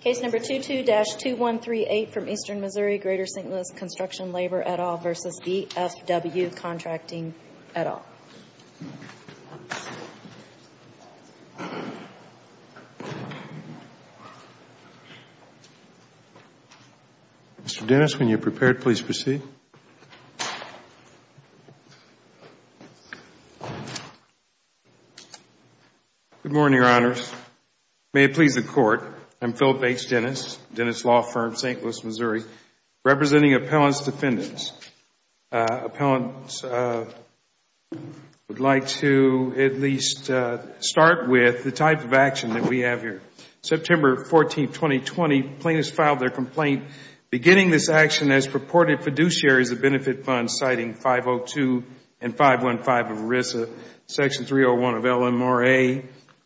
Case No. 22-2138 from Eastern Missouri, Greater St. Louis, Construction, Labor, et al. v. B.F.W. Contracting, et al. Mr. Dennis, when you're prepared, please proceed. Good morning, Your Honors. May it please the Court, I'm Philip H. Dennis, Dennis Law Firm, St. Louis, Missouri, representing Appellant's Defendants. Appellants would like to at least start with the type of action that we have here. September 14, 2020, plaintiffs filed their complaint beginning this action as purported fiduciaries of benefit funds citing 502 and 515 of ERISA, section 301 of LMRA,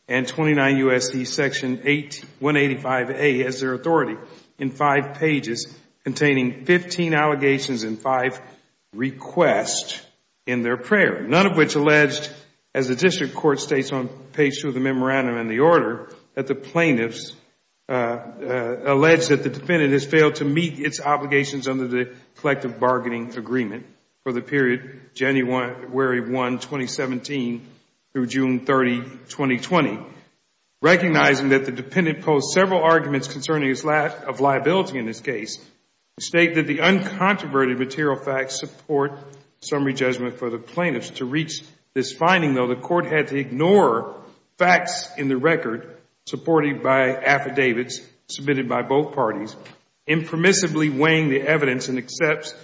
and 29 U.S.C. section 185A as their authority in five pages containing 15 allegations and five requests in their prayer. None of which alleged, as the district court states on page 2 of the memorandum and the order, that the plaintiffs alleged that the defendant has failed to meet its obligations under the collective bargaining agreement for the period January 1, 2017, through June 30, 2020. Recognizing that the dependent posed several arguments concerning his liability in this case, we state that the uncontroverted material facts support summary judgment for the plaintiffs. To reach this finding, though, the court had to ignore facts in the record supported by affidavits submitted by both parties, impermissibly weighing the evidence and accepts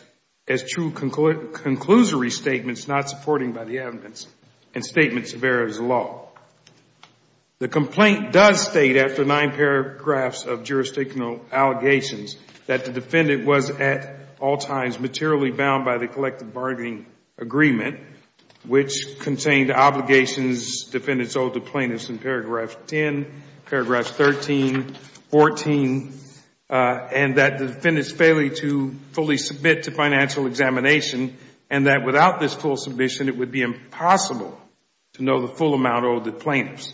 as true conclusory statements not supported by the evidence and statements of ERISA law. The complaint does state, after nine paragraphs of jurisdictional allegations, that the defendant was at all times materially bound by the collective bargaining agreement, which contained obligations defendants owed to plaintiffs in paragraphs 10, paragraphs 13, 14, and that the defendant's failure to fully submit to financial examination and that without this full submission, it would be impossible to know the full amount owed to plaintiffs.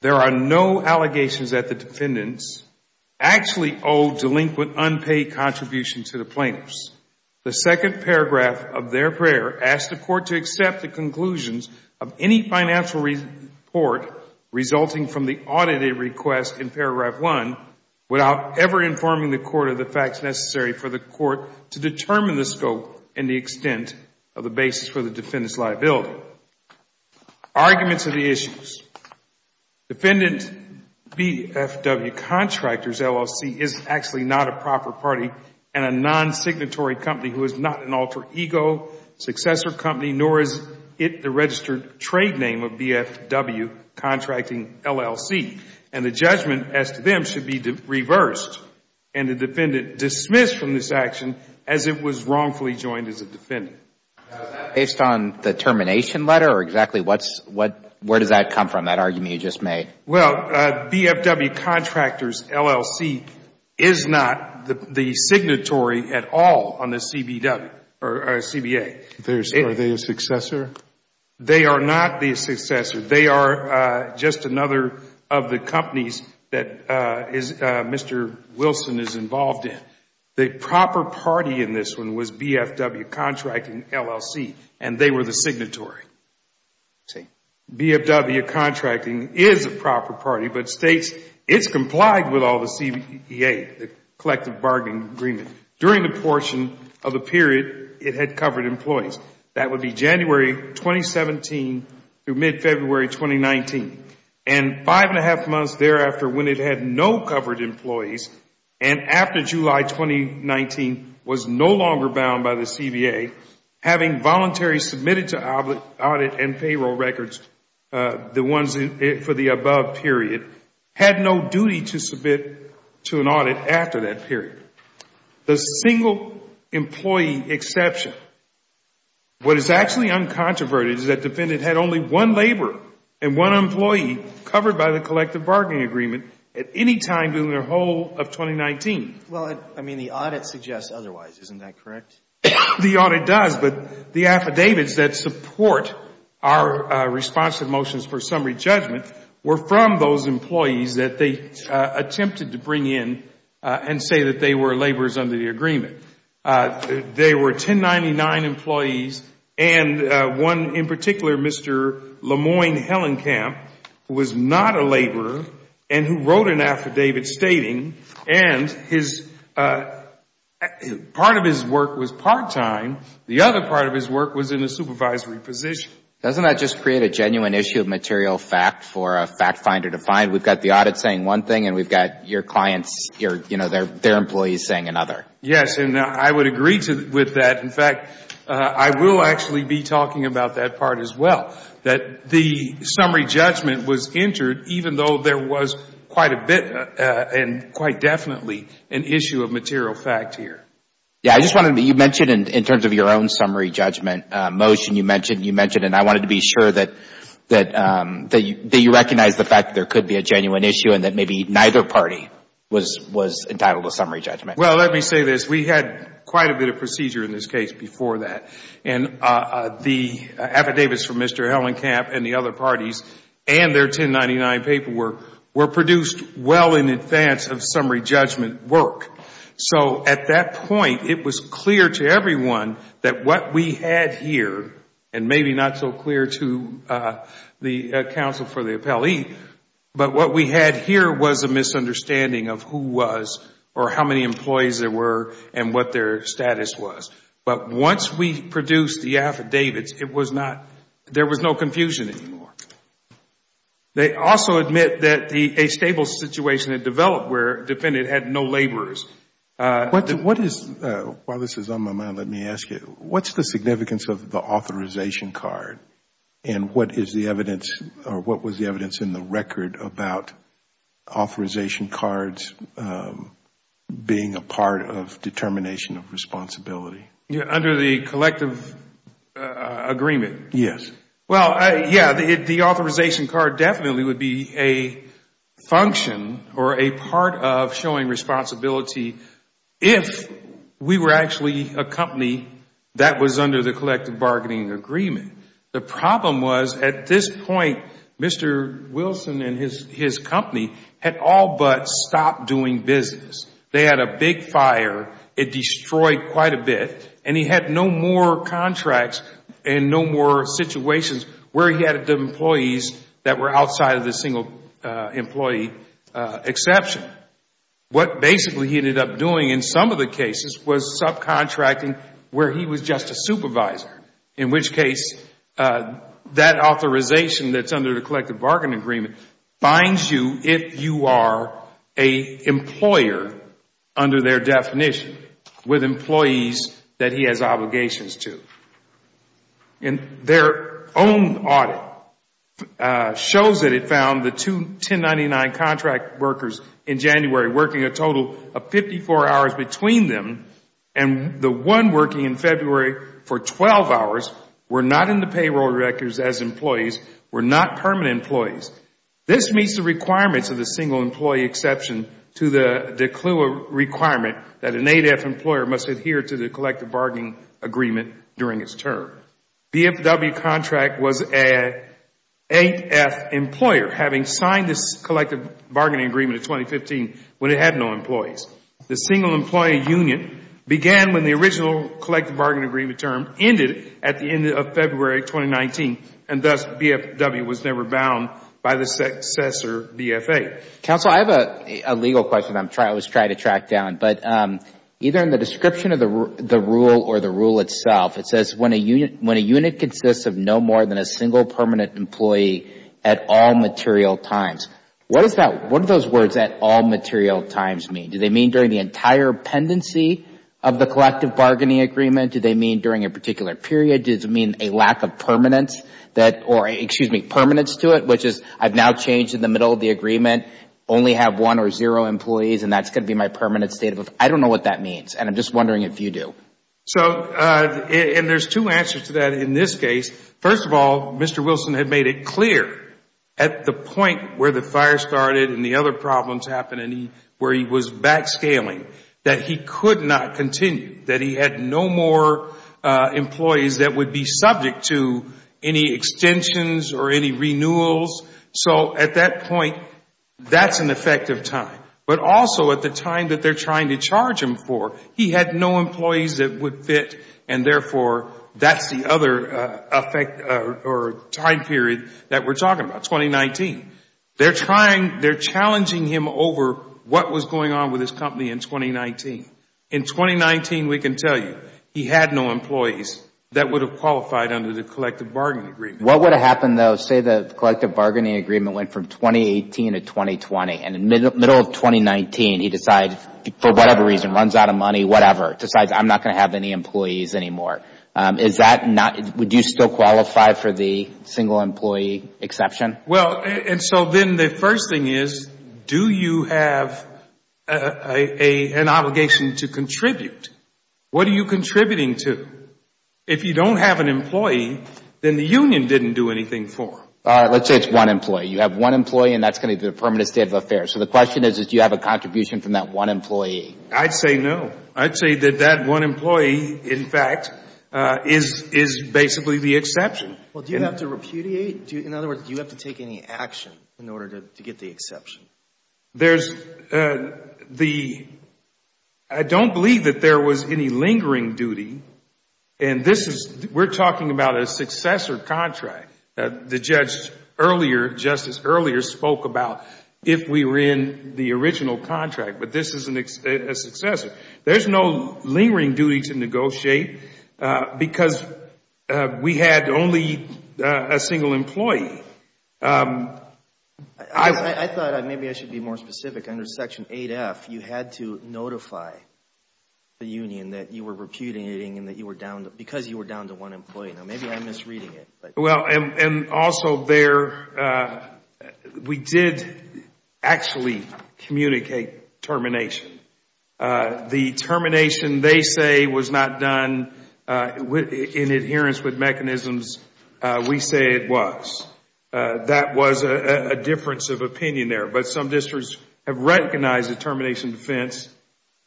There are no allegations that the defendants actually owed delinquent unpaid contributions to the plaintiffs. The second paragraph of their prayer asked the court to accept the conclusions of any financial report resulting from the audited request in paragraph 1 without ever informing the court of the facts necessary for the court to determine the scope and the extent of the basis for the defendant's liability. So, arguments of the issues. Defendant BFW Contractors LLC is actually not a proper party and a non-signatory company who is not an alter ego, successor company, nor is it the registered trade name of BFW Contracting LLC. And the judgment as to them should be reversed. And the defendant dismissed from this action as it was wrongfully joined as a defendant. Now, is that based on the termination letter or exactly where does that come from, that argument you just made? Well, BFW Contractors LLC is not the signatory at all on the CBA. Are they a successor? They are not the successor. They are just another of the companies that Mr. Wilson is involved in. The proper party in this one was BFW Contracting LLC and they were the signatory. BFW Contracting is a proper party but states it's complied with all the CBA, the collective bargaining agreement, during the portion of the period it had covered employees. That would be January 2017 through mid-February 2019. And five and a half months thereafter when it had no covered employees and after July 2019 was no longer bound by the CBA, having voluntary submitted to audit and payroll records, the ones for the above period, had no duty to submit to an audit after that period. The single employee exception, what is actually uncontroverted is that defendant had only one laborer and one employee covered by the collective bargaining agreement at any time during the whole of 2019. Well, I mean, the audit suggests otherwise. Isn't that correct? The audit does, but the affidavits that support our response to motions for summary judgment were from those employees that they attempted to bring in and say that they were laborers under the agreement. They were 1099 employees and one in particular, Mr. Lemoyne Hellenkamp, was not a laborer and who wrote an affidavit stating and part of his work was part-time. The other part of his work was in a supervisory position. Doesn't that just create a genuine issue of material fact for a fact finder to find? We've got the audit saying one thing and we've got your clients, their employees saying another. Yes, and I would agree with that. In fact, I will actually be talking about that part as well, that the summary judgment was entered even though there was quite a bit and quite definitely an issue of material fact here. Yeah, you mentioned in terms of your own summary judgment motion, you mentioned and I wanted to be sure that you recognize the fact that there could be a genuine issue and that maybe neither party was entitled to summary judgment. Well, let me say this. We had quite a bit of procedure in this case before that and the affidavits from Mr. Hellenkamp and the other parties and their 1099 paperwork were produced well in advance of summary judgment work. So at that point, it was clear to everyone that what we had here and maybe not so clear to the counsel for the appellee, but what we had here was a misunderstanding of who was or how many employees there were and what their status was. But once we produced the affidavits, there was no confusion anymore. They also admit that a stable situation had developed where a defendant had no laborers. While this is on my mind, let me ask you, what's the significance of the authorization card and what was the evidence in the record about authorization cards being a part of determination of responsibility? Under the collective agreement? Yes. Well, yes, the authorization card definitely would be a function or a part of showing responsibility if we were actually a company that was under the collective bargaining agreement. The problem was at this point, Mr. Wilson and his company had all but stopped doing business. They had a big fire. It destroyed quite a bit. And he had no more contracts and no more situations where he had employees that were outside of the single employee exception. What basically he ended up doing in some of the cases was subcontracting where he was just a supervisor. In which case, that authorization that's under the collective bargaining agreement binds you if you are an employer under their definition with employees that he has obligations to. And their own audit shows that it found the two 1099 contract workers in January working a total of 54 hours between them and the one working in February for 12 hours were not in the payroll records as employees, were not permanent employees. This meets the requirements of the single employee exception to the requirement that an 8F employer must adhere to the collective bargaining agreement during its term. BFW contract was an 8F employer having signed this collective bargaining agreement in 2015 when it had no employees. The single employee union began when the original collective bargaining agreement term ended at the end of February 2019. And thus, BFW was never bound by the successor BFA. Counsel, I have a legal question I'm trying to track down. But either in the description of the rule or the rule itself, it says when a unit consists of no more than a single permanent employee at all material times. What do those words at all material times mean? Do they mean during the entire pendency of the collective bargaining agreement? Do they mean during a particular period? Does it mean a lack of permanence to it, which is I've now changed in the middle of the agreement, only have one or zero employees, and that's going to be my permanent state? I don't know what that means, and I'm just wondering if you do. There are two answers to that in this case. First of all, Mr. Wilson had made it clear at the point where the fire started and the other problems happened and where he was backscaling that he could not continue, that he had no more employees that would be subject to any extensions or any renewals. So at that point, that's an effective time. But also at the time that they're trying to charge him for, he had no employees that would fit, and therefore, that's the other effect or time period that we're talking about, 2019. They're challenging him over what was going on with his company in 2019. In 2019, we can tell you he had no employees that would have qualified under the collective bargaining agreement. What would have happened, though, say the collective bargaining agreement went from 2018 to 2020, and in the middle of 2019, he decides, for whatever reason, runs out of money, whatever, decides I'm not going to have any employees anymore. Would you still qualify for the single employee exception? Well, and so then the first thing is, do you have an obligation to contribute? What are you contributing to? If you don't have an employee, then the union didn't do anything for him. Let's say it's one employee. You have one employee, and that's going to be the permanent state of affairs. So the question is, do you have a contribution from that one employee? I'd say no. I'd say that that one employee, in fact, is basically the exception. Well, do you have to repudiate? In other words, do you have to take any action in order to get the exception? I don't believe that there was any lingering duty, and we're talking about a successor contract. The judge earlier, Justice Earlier, spoke about if we were in the original contract, but this is a successor. There's no lingering duty to negotiate because we had only a single employee. I thought maybe I should be more specific. Under Section 8F, you had to notify the union that you were repudiating because you were down to one employee. Now, maybe I'm misreading it. Well, and also there, we did actually communicate termination. The termination, they say, was not done in adherence with mechanisms we say it was. That was a difference of opinion there, but some districts have recognized the termination defense,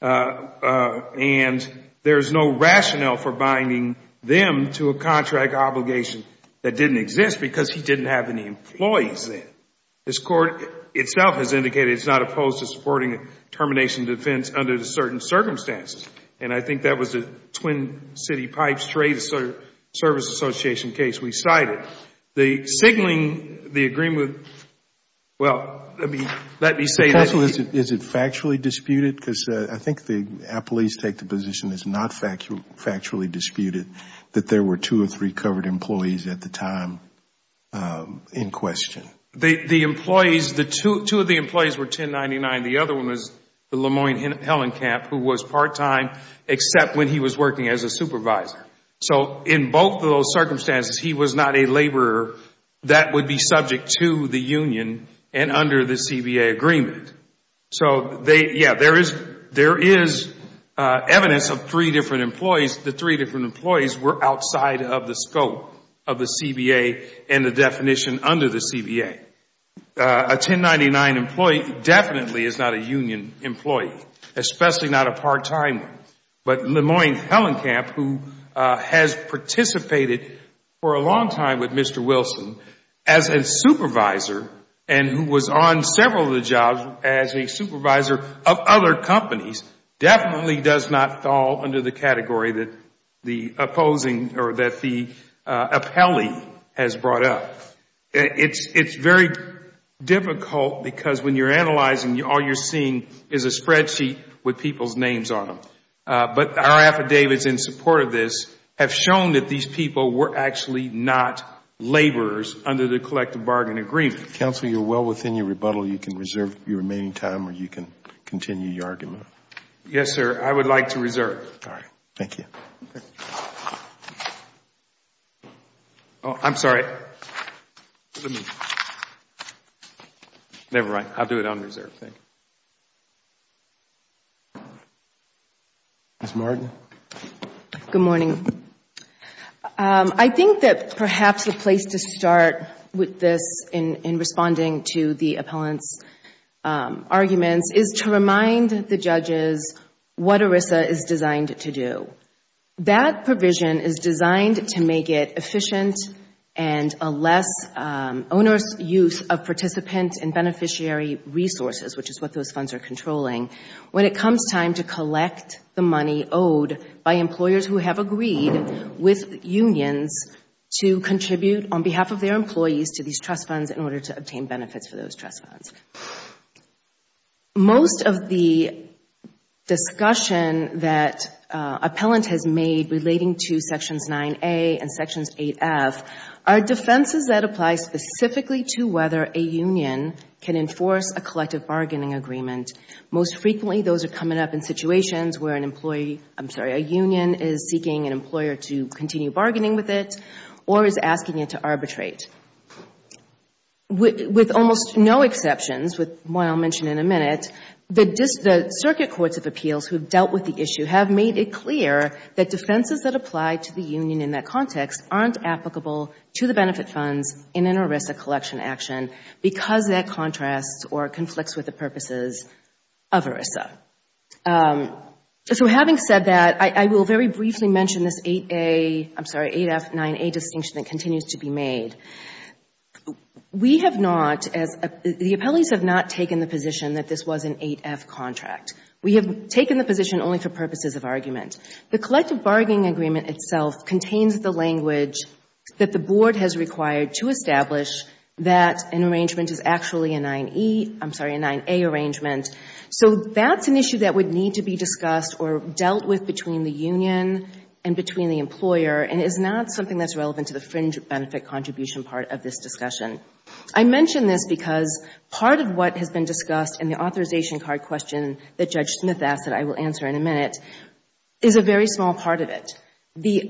and there's no rationale for binding them to a contract obligation that didn't exist because he didn't have any employees then. This Court itself has indicated it's not opposed to supporting termination defense under the certain circumstances, and I think that was a Twin City Pipes Trade Service Association case we cited. The signaling, the agreement, well, let me say this. Counsel, is it factually disputed? Because I think the appellees take the position it's not factually disputed that there were two or three covered employees at the time in question. The employees, two of the employees were 1099. The other one was the LeMoyne-Hellenkamp who was part-time except when he was working as a supervisor. So in both of those circumstances, he was not a laborer that would be subject to the union and under the CBA agreement. So, yeah, there is evidence of three different employees. The three different employees were outside of the scope of the CBA and the definition under the CBA. A 1099 employee definitely is not a union employee, especially not a part-time one. But LeMoyne-Hellenkamp, who has participated for a long time with Mr. Wilson as a supervisor and who was on several of the jobs as a supervisor of other companies, definitely does not fall under the category that the opposing or that the appellee has brought up. It's very difficult because when you're analyzing, all you're seeing is a spreadsheet with people's names on them. But our affidavits in support of this have shown that these people were actually not laborers under the collective bargain agreement. Counsel, you're well within your rebuttal. You can reserve your remaining time or you can continue your argument. Yes, sir. I would like to reserve. All right. Thank you. I'm sorry. Never mind. I'll do it on reserve. Thank you. Ms. Martin. Good morning. I think that perhaps the place to start with this in responding to the appellant's arguments is to remind the judges what ERISA is designed to do. That provision is designed to make it efficient and a less onerous use of participant and beneficiary resources, which is what those funds are controlling, when it comes time to collect the money owed by employers who have agreed with unions to contribute on behalf of their employees to these trust funds in order to obtain benefits for those trust funds. Most of the discussion that appellant has made relating to Sections 9A and Sections 8F are defenses that apply specifically to whether a union can enforce a collective bargaining agreement. Most frequently, those are coming up in situations where a union is seeking an employer to continue bargaining with it or is asking it to arbitrate. With almost no exceptions, which I'll mention in a minute, the circuit courts of appeals who have dealt with the issue have made it clear that defenses that apply to the union in that context aren't applicable to the benefit funds in an ERISA collection action because that contrasts or conflicts with the purposes of ERISA. Having said that, I will very briefly mention this 8F, 9A distinction that continues to be made. The appellees have not taken the position that this was an 8F contract. We have taken the position only for purposes of argument. The collective bargaining agreement itself contains the language that the Board has required to establish that an arrangement is actually a 9A arrangement. So that's an issue that would need to be discussed or dealt with between the union and between the employer and is not something that's relevant to the fringe benefit contribution part of this discussion. I mention this because part of what has been discussed in the authorization card question that Judge Smith asked that I will answer in a minute is a very small part of it. The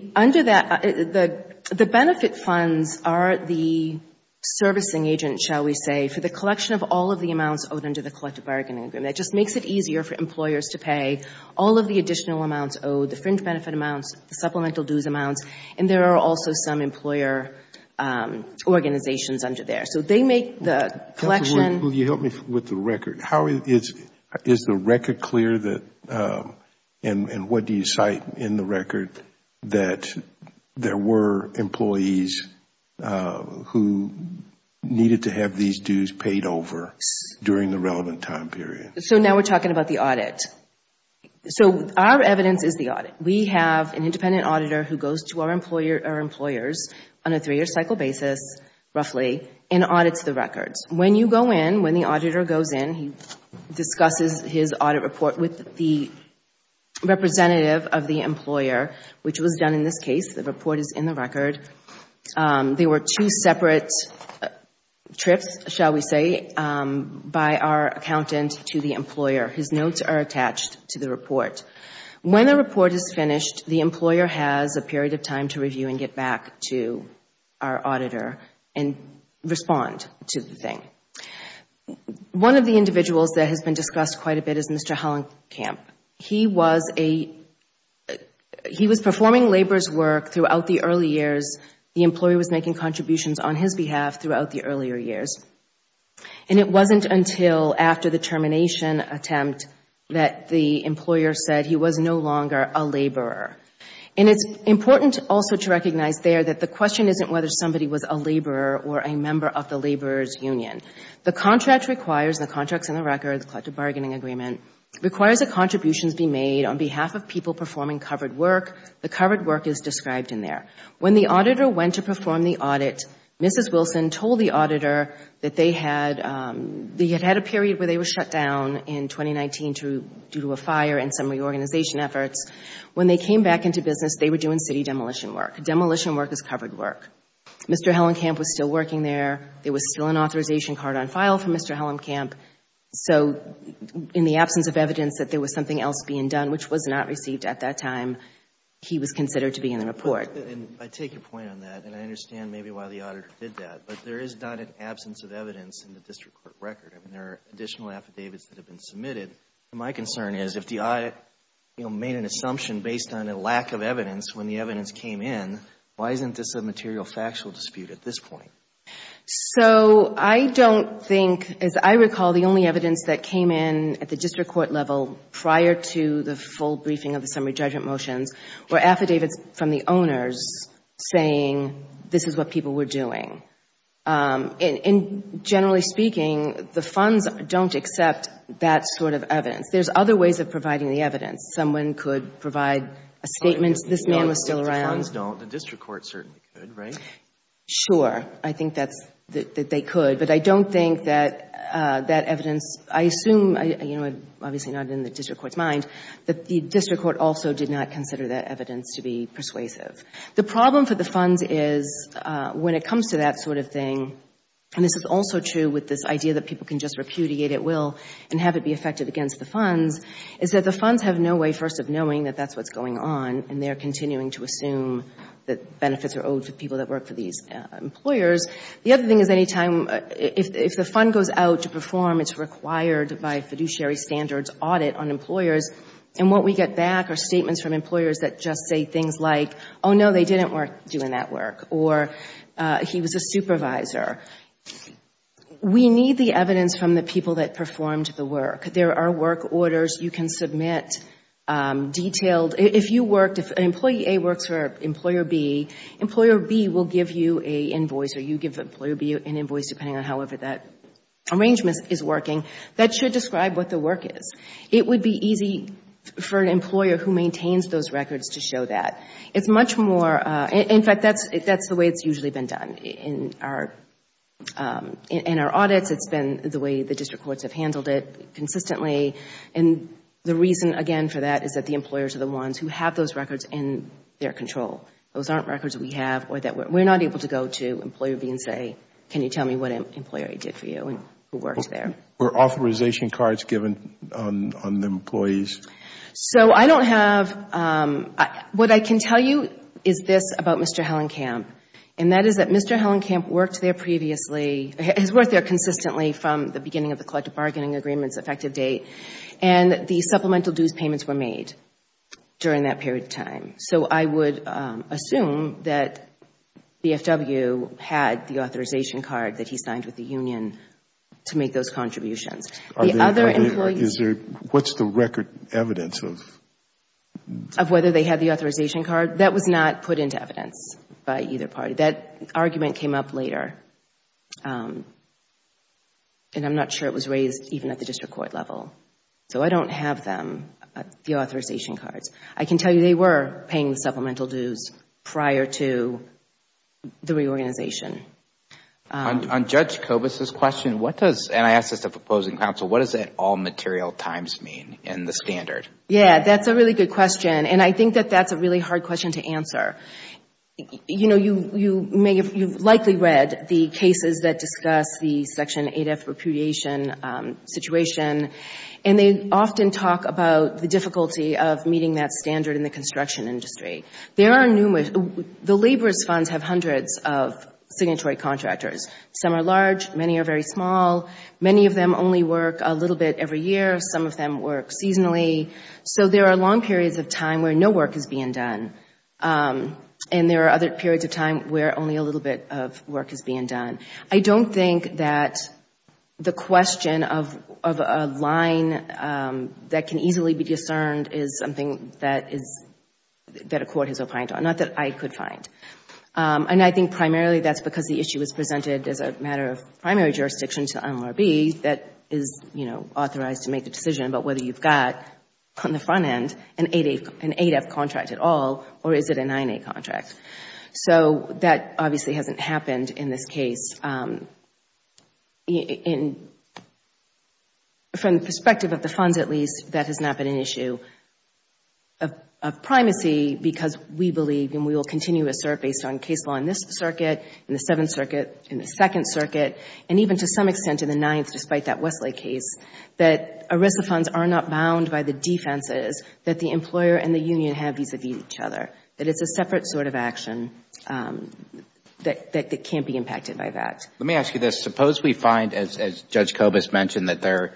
benefit funds are the servicing agent, shall we say, for the collection of all of the amounts owed under the collective bargaining agreement. It just makes it easier for employers to pay all of the additional amounts owed, the fringe benefit amounts, the supplemental dues amounts, and there are also some employer organizations under there. So they make the collection. Will you help me with the record? Is the record clear and what do you cite in the record that there were employees who needed to have these dues paid over during the relevant time period? So now we're talking about the audit. So our evidence is the audit. We have an independent auditor who goes to our employers on a three-year cycle basis, roughly, and audits the records. When you go in, when the auditor goes in, he discusses his audit report with the representative of the employer, which was done in this case. The report is in the record. There were two separate trips, shall we say, by our accountant to the employer. His notes are attached to the report. When a report is finished, the employer has a period of time to review and get back to our auditor and respond to the thing. One of the individuals that has been discussed quite a bit is Mr. Hellenkamp. He was performing labor's work throughout the early years. The employee was making contributions on his behalf throughout the earlier years. And it wasn't until after the termination attempt that the employer said he was no longer a laborer. And it's important also to recognize there that the question isn't whether somebody was a laborer or a member of the laborer's union. The contract requires, the contract's in the record, the collective bargaining agreement, requires that contributions be made on behalf of people performing covered work. The covered work is described in there. When the auditor went to perform the audit, Mrs. Wilson told the auditor that they had a period where they were shut down in 2019 due to a fire and some reorganization efforts. When they came back into business, they were doing city demolition work. Demolition work is covered work. Mr. Hellenkamp was still working there. There was still an authorization card on file for Mr. Hellenkamp. So in the absence of evidence that there was something else being done, which was not received at that time, he was considered to be in the report. And I take your point on that. And I understand maybe why the auditor did that. But there is not an absence of evidence in the district court record. I mean, there are additional affidavits that have been submitted. My concern is if the audit, you know, made an assumption based on a lack of evidence when the evidence came in, why isn't this a material factual dispute at this point? So I don't think, as I recall, the only evidence that came in at the district court level prior to the full briefing of the summary judgment motions were affidavits from the owners saying this is what people were doing. And generally speaking, the funds don't accept that sort of evidence. There's other ways of providing the evidence. Someone could provide a statement. This man was still around. The funds don't. The district court certainly could, right? Sure. I think that they could. But I don't think that that evidence, I assume, you know, obviously not in the district court's mind, that the district court also did not consider that evidence to be persuasive. The problem for the funds is when it comes to that sort of thing, and this is also true with this idea that people can just repudiate at will and have it be effective against the funds, is that the funds have no way first of knowing that that's what's going on and they're continuing to assume that benefits are owed to people that work for these employers. The other thing is any time, if the fund goes out to perform, it's required by a fiduciary standards audit on employers, and what we get back are statements from employers that just say things like, oh, no, they didn't work doing that work, or he was a supervisor. We need the evidence from the people that performed the work. There are work orders you can submit detailed. If you worked, if employee A works for employer B, employer B will give you an invoice, or you give employer B an invoice, depending on however that arrangement is working, that should describe what the work is. It would be easy for an employer who maintains those records to show that. It's much more, in fact, that's the way it's usually been done. In our audits, it's been the way the district courts have handled it consistently, and the reason, again, for that is that the employers are the ones who have those records in their control. Those aren't records we have or that we're not able to go to employer B and say, can you tell me what employer A did for you and who worked there. Were authorization cards given on the employees? So I don't have, what I can tell you is this about Mr. Hellenkamp, and that is that Mr. Hellenkamp worked there previously, has worked there consistently from the beginning of the collective bargaining agreements effective date, and the supplemental dues payments were made during that period of time. So I would assume that the FW had the authorization card that he signed with the union to make those contributions. The other employee Is there, what's the record evidence of? Of whether they had the authorization card? That was not put into evidence by either party. That argument came up later, and I'm not sure it was raised even at the district court level. So I don't have them, the authorization cards. I can tell you they were paying supplemental dues prior to the reorganization. On Judge Kobus' question, what does, and I ask this to the proposing counsel, what does that all material times mean in the standard? Yeah, that's a really good question, and I think that that's a really hard question to answer. You know, you've likely read the cases that discuss the Section 8F repudiation situation, and they often talk about the difficulty of meeting that standard in the construction industry. There are numerous, the laborers' funds have hundreds of signatory contractors. Some are large. Many are very small. Many of them only work a little bit every year. Some of them work seasonally. So there are long periods of time where no work is being done, and there are other periods of time where only a little bit of work is being done. I don't think that the question of a line that can easily be discerned is something that is, that a court has opined on, not that I could find. And I think primarily that's because the issue is presented as a matter of primary jurisdiction to NLRB that is, you know, authorized to make a decision about whether you've got on the front end an 8F contract at all or is it a 9A contract. So that obviously hasn't happened in this case. From the perspective of the funds, at least, that has not been an issue of primacy because we believe, and we will continue to assert based on case law in this circuit, in the Seventh Circuit, in the Second Circuit, and even to some extent in the Ninth despite that Westlake case, that ERISA funds are not bound by the defenses that the employer and the union have vis-à-vis each other, that it's a separate sort of action that can't be impacted by that. Let me ask you this. Suppose we find, as Judge Kobus mentioned, that there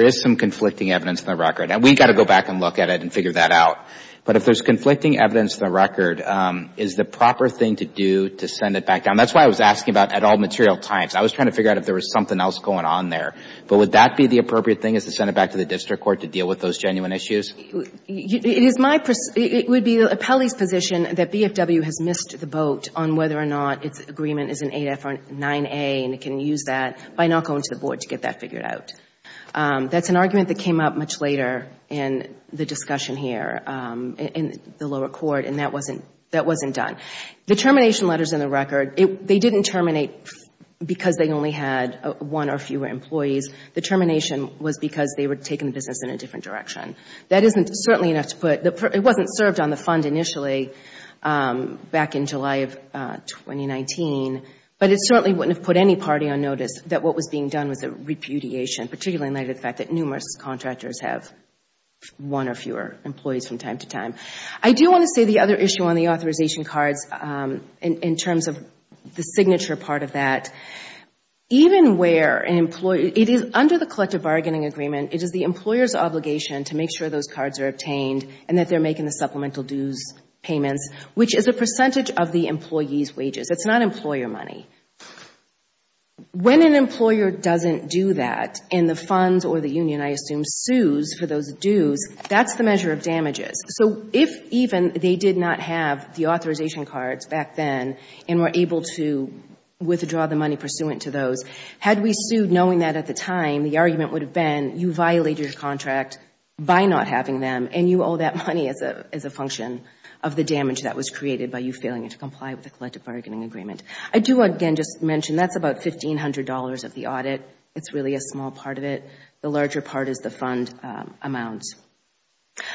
is some conflicting evidence in the record. And we've got to go back and look at it and figure that out. But if there's conflicting evidence in the record, is the proper thing to do to send it back down? That's why I was asking about at all material times. I was trying to figure out if there was something else going on there. But would that be the appropriate thing, is to send it back to the district court to deal with those genuine issues? It would be the appellee's position that BFW has missed the boat on whether or not its agreement is an 8F or 9A and it can use that by not going to the board to get that figured out. That's an argument that came up much later in the discussion here in the lower court, and that wasn't done. The termination letters in the record, they didn't terminate because they only had one or fewer employees. The termination was because they were taking the business in a different direction. That wasn't served on the fund initially back in July of 2019, but it certainly wouldn't have put any party on notice that what was being done was a repudiation, particularly in light of the fact that numerous contractors have one or fewer employees from time to time. I do want to say the other issue on the authorization cards in terms of the signature part of that. Under the collective bargaining agreement, it is the employer's obligation to make sure those cards are obtained and that they're making the supplemental dues payments, which is a percentage of the employee's wages. It's not employer money. When an employer doesn't do that and the funds or the union, I assume, sues for those dues, that's the measure of damages. So if even they did not have the authorization cards back then and were able to withdraw the money pursuant to those, had we sued knowing that at the time, the argument would have been you violated your contract by not having them and you owe that money as a function of the damage that was created by you failing to comply with the collective bargaining agreement. I do, again, just mention that's about $1,500 of the audit. It's really a small part of it. The larger part is the fund amount.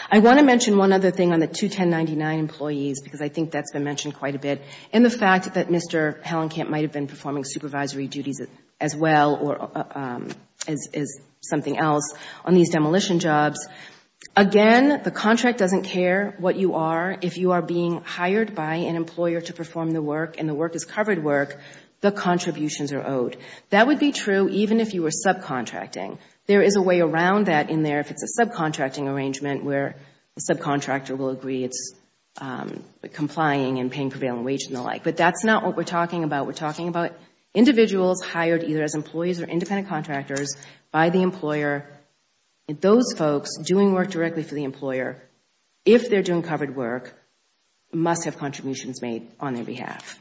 I want to mention one other thing on the 21099 employees because I think that's been mentioned quite a bit and the fact that Mr. Hellenkamp might have been performing supervisory duties as well or as something else on these demolition jobs. Again, the contract doesn't care what you are. If you are being hired by an employer to perform the work and the work is covered work, the contributions are owed. That would be true even if you were subcontracting. There is a way around that in there if it's a subcontracting arrangement where the subcontractor will agree it's complying and paying prevailing wage and the like, but that's not what we're talking about. We're talking about individuals hired either as employees or independent contractors by the employer. Those folks doing work directly for the employer, if they're doing covered work, must have contributions made on their behalf.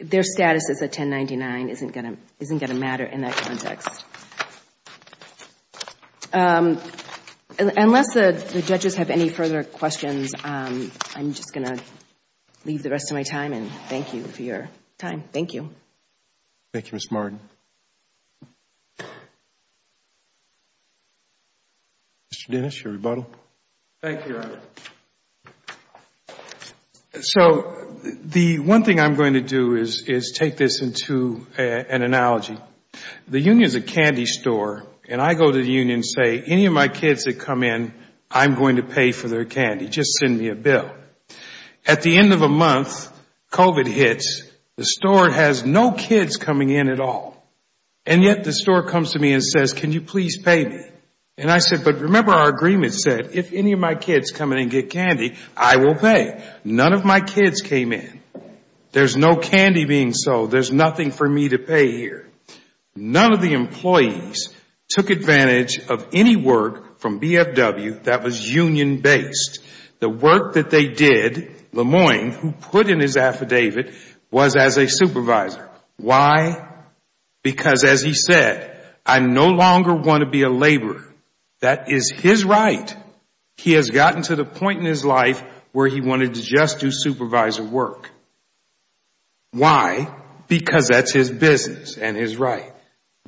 Their status as a 1099 isn't going to matter in that context. Unless the judges have any further questions, I'm just going to leave the rest of my time and thank you for your time. Thank you. Thank you, Ms. Martin. Mr. Dennis, your rebuttal. Thank you, Your Honor. The one thing I'm going to do is take this into an analogy. The union is a candy store and I go to the union and say, any of my kids that come in, I'm going to pay for their candy. Just send me a bill. At the end of a month, COVID hits, the store has no kids coming in at all. And yet the store comes to me and says, can you please pay me? And I said, but remember our agreement said, if any of my kids come in and get candy, I will pay. None of my kids came in. There's no candy being sold. There's nothing for me to pay here. None of the employees took advantage of any work from BFW that was union-based. The work that they did, Lemoine, who put in his affidavit, was as a supervisor. Why? Because, as he said, I no longer want to be a laborer. That is his right. He has gotten to the point in his life where he wanted to just do supervisor work. Why? Because that's his business and his right.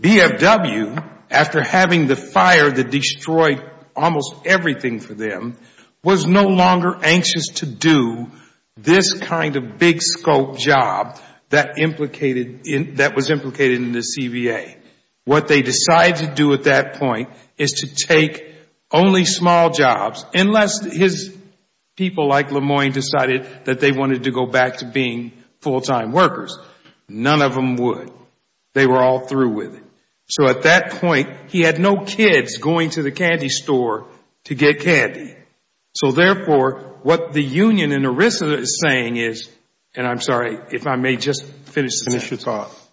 BFW, after having the fire that destroyed almost everything for them, was no longer anxious to do this kind of big scope job that was implicated in the CBA. What they decided to do at that point is to take only small jobs, unless his people like Lemoine decided that they wanted to go back to being full-time workers. None of them would. They were all through with it. At that point, he had no kids going to the candy store to get candy. Therefore, what the union and ERISA is saying is, and I'm sorry if I may just finish this off,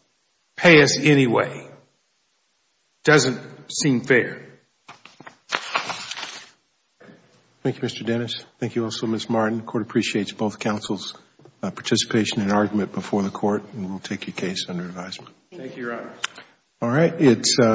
pay us anyway. It doesn't seem fair. Thank you, Mr. Dennis. Thank you also, Ms. Martin. The Court appreciates both counsel's participation and argument before the Court and will take your case under advisement. Thank you, Your Honor.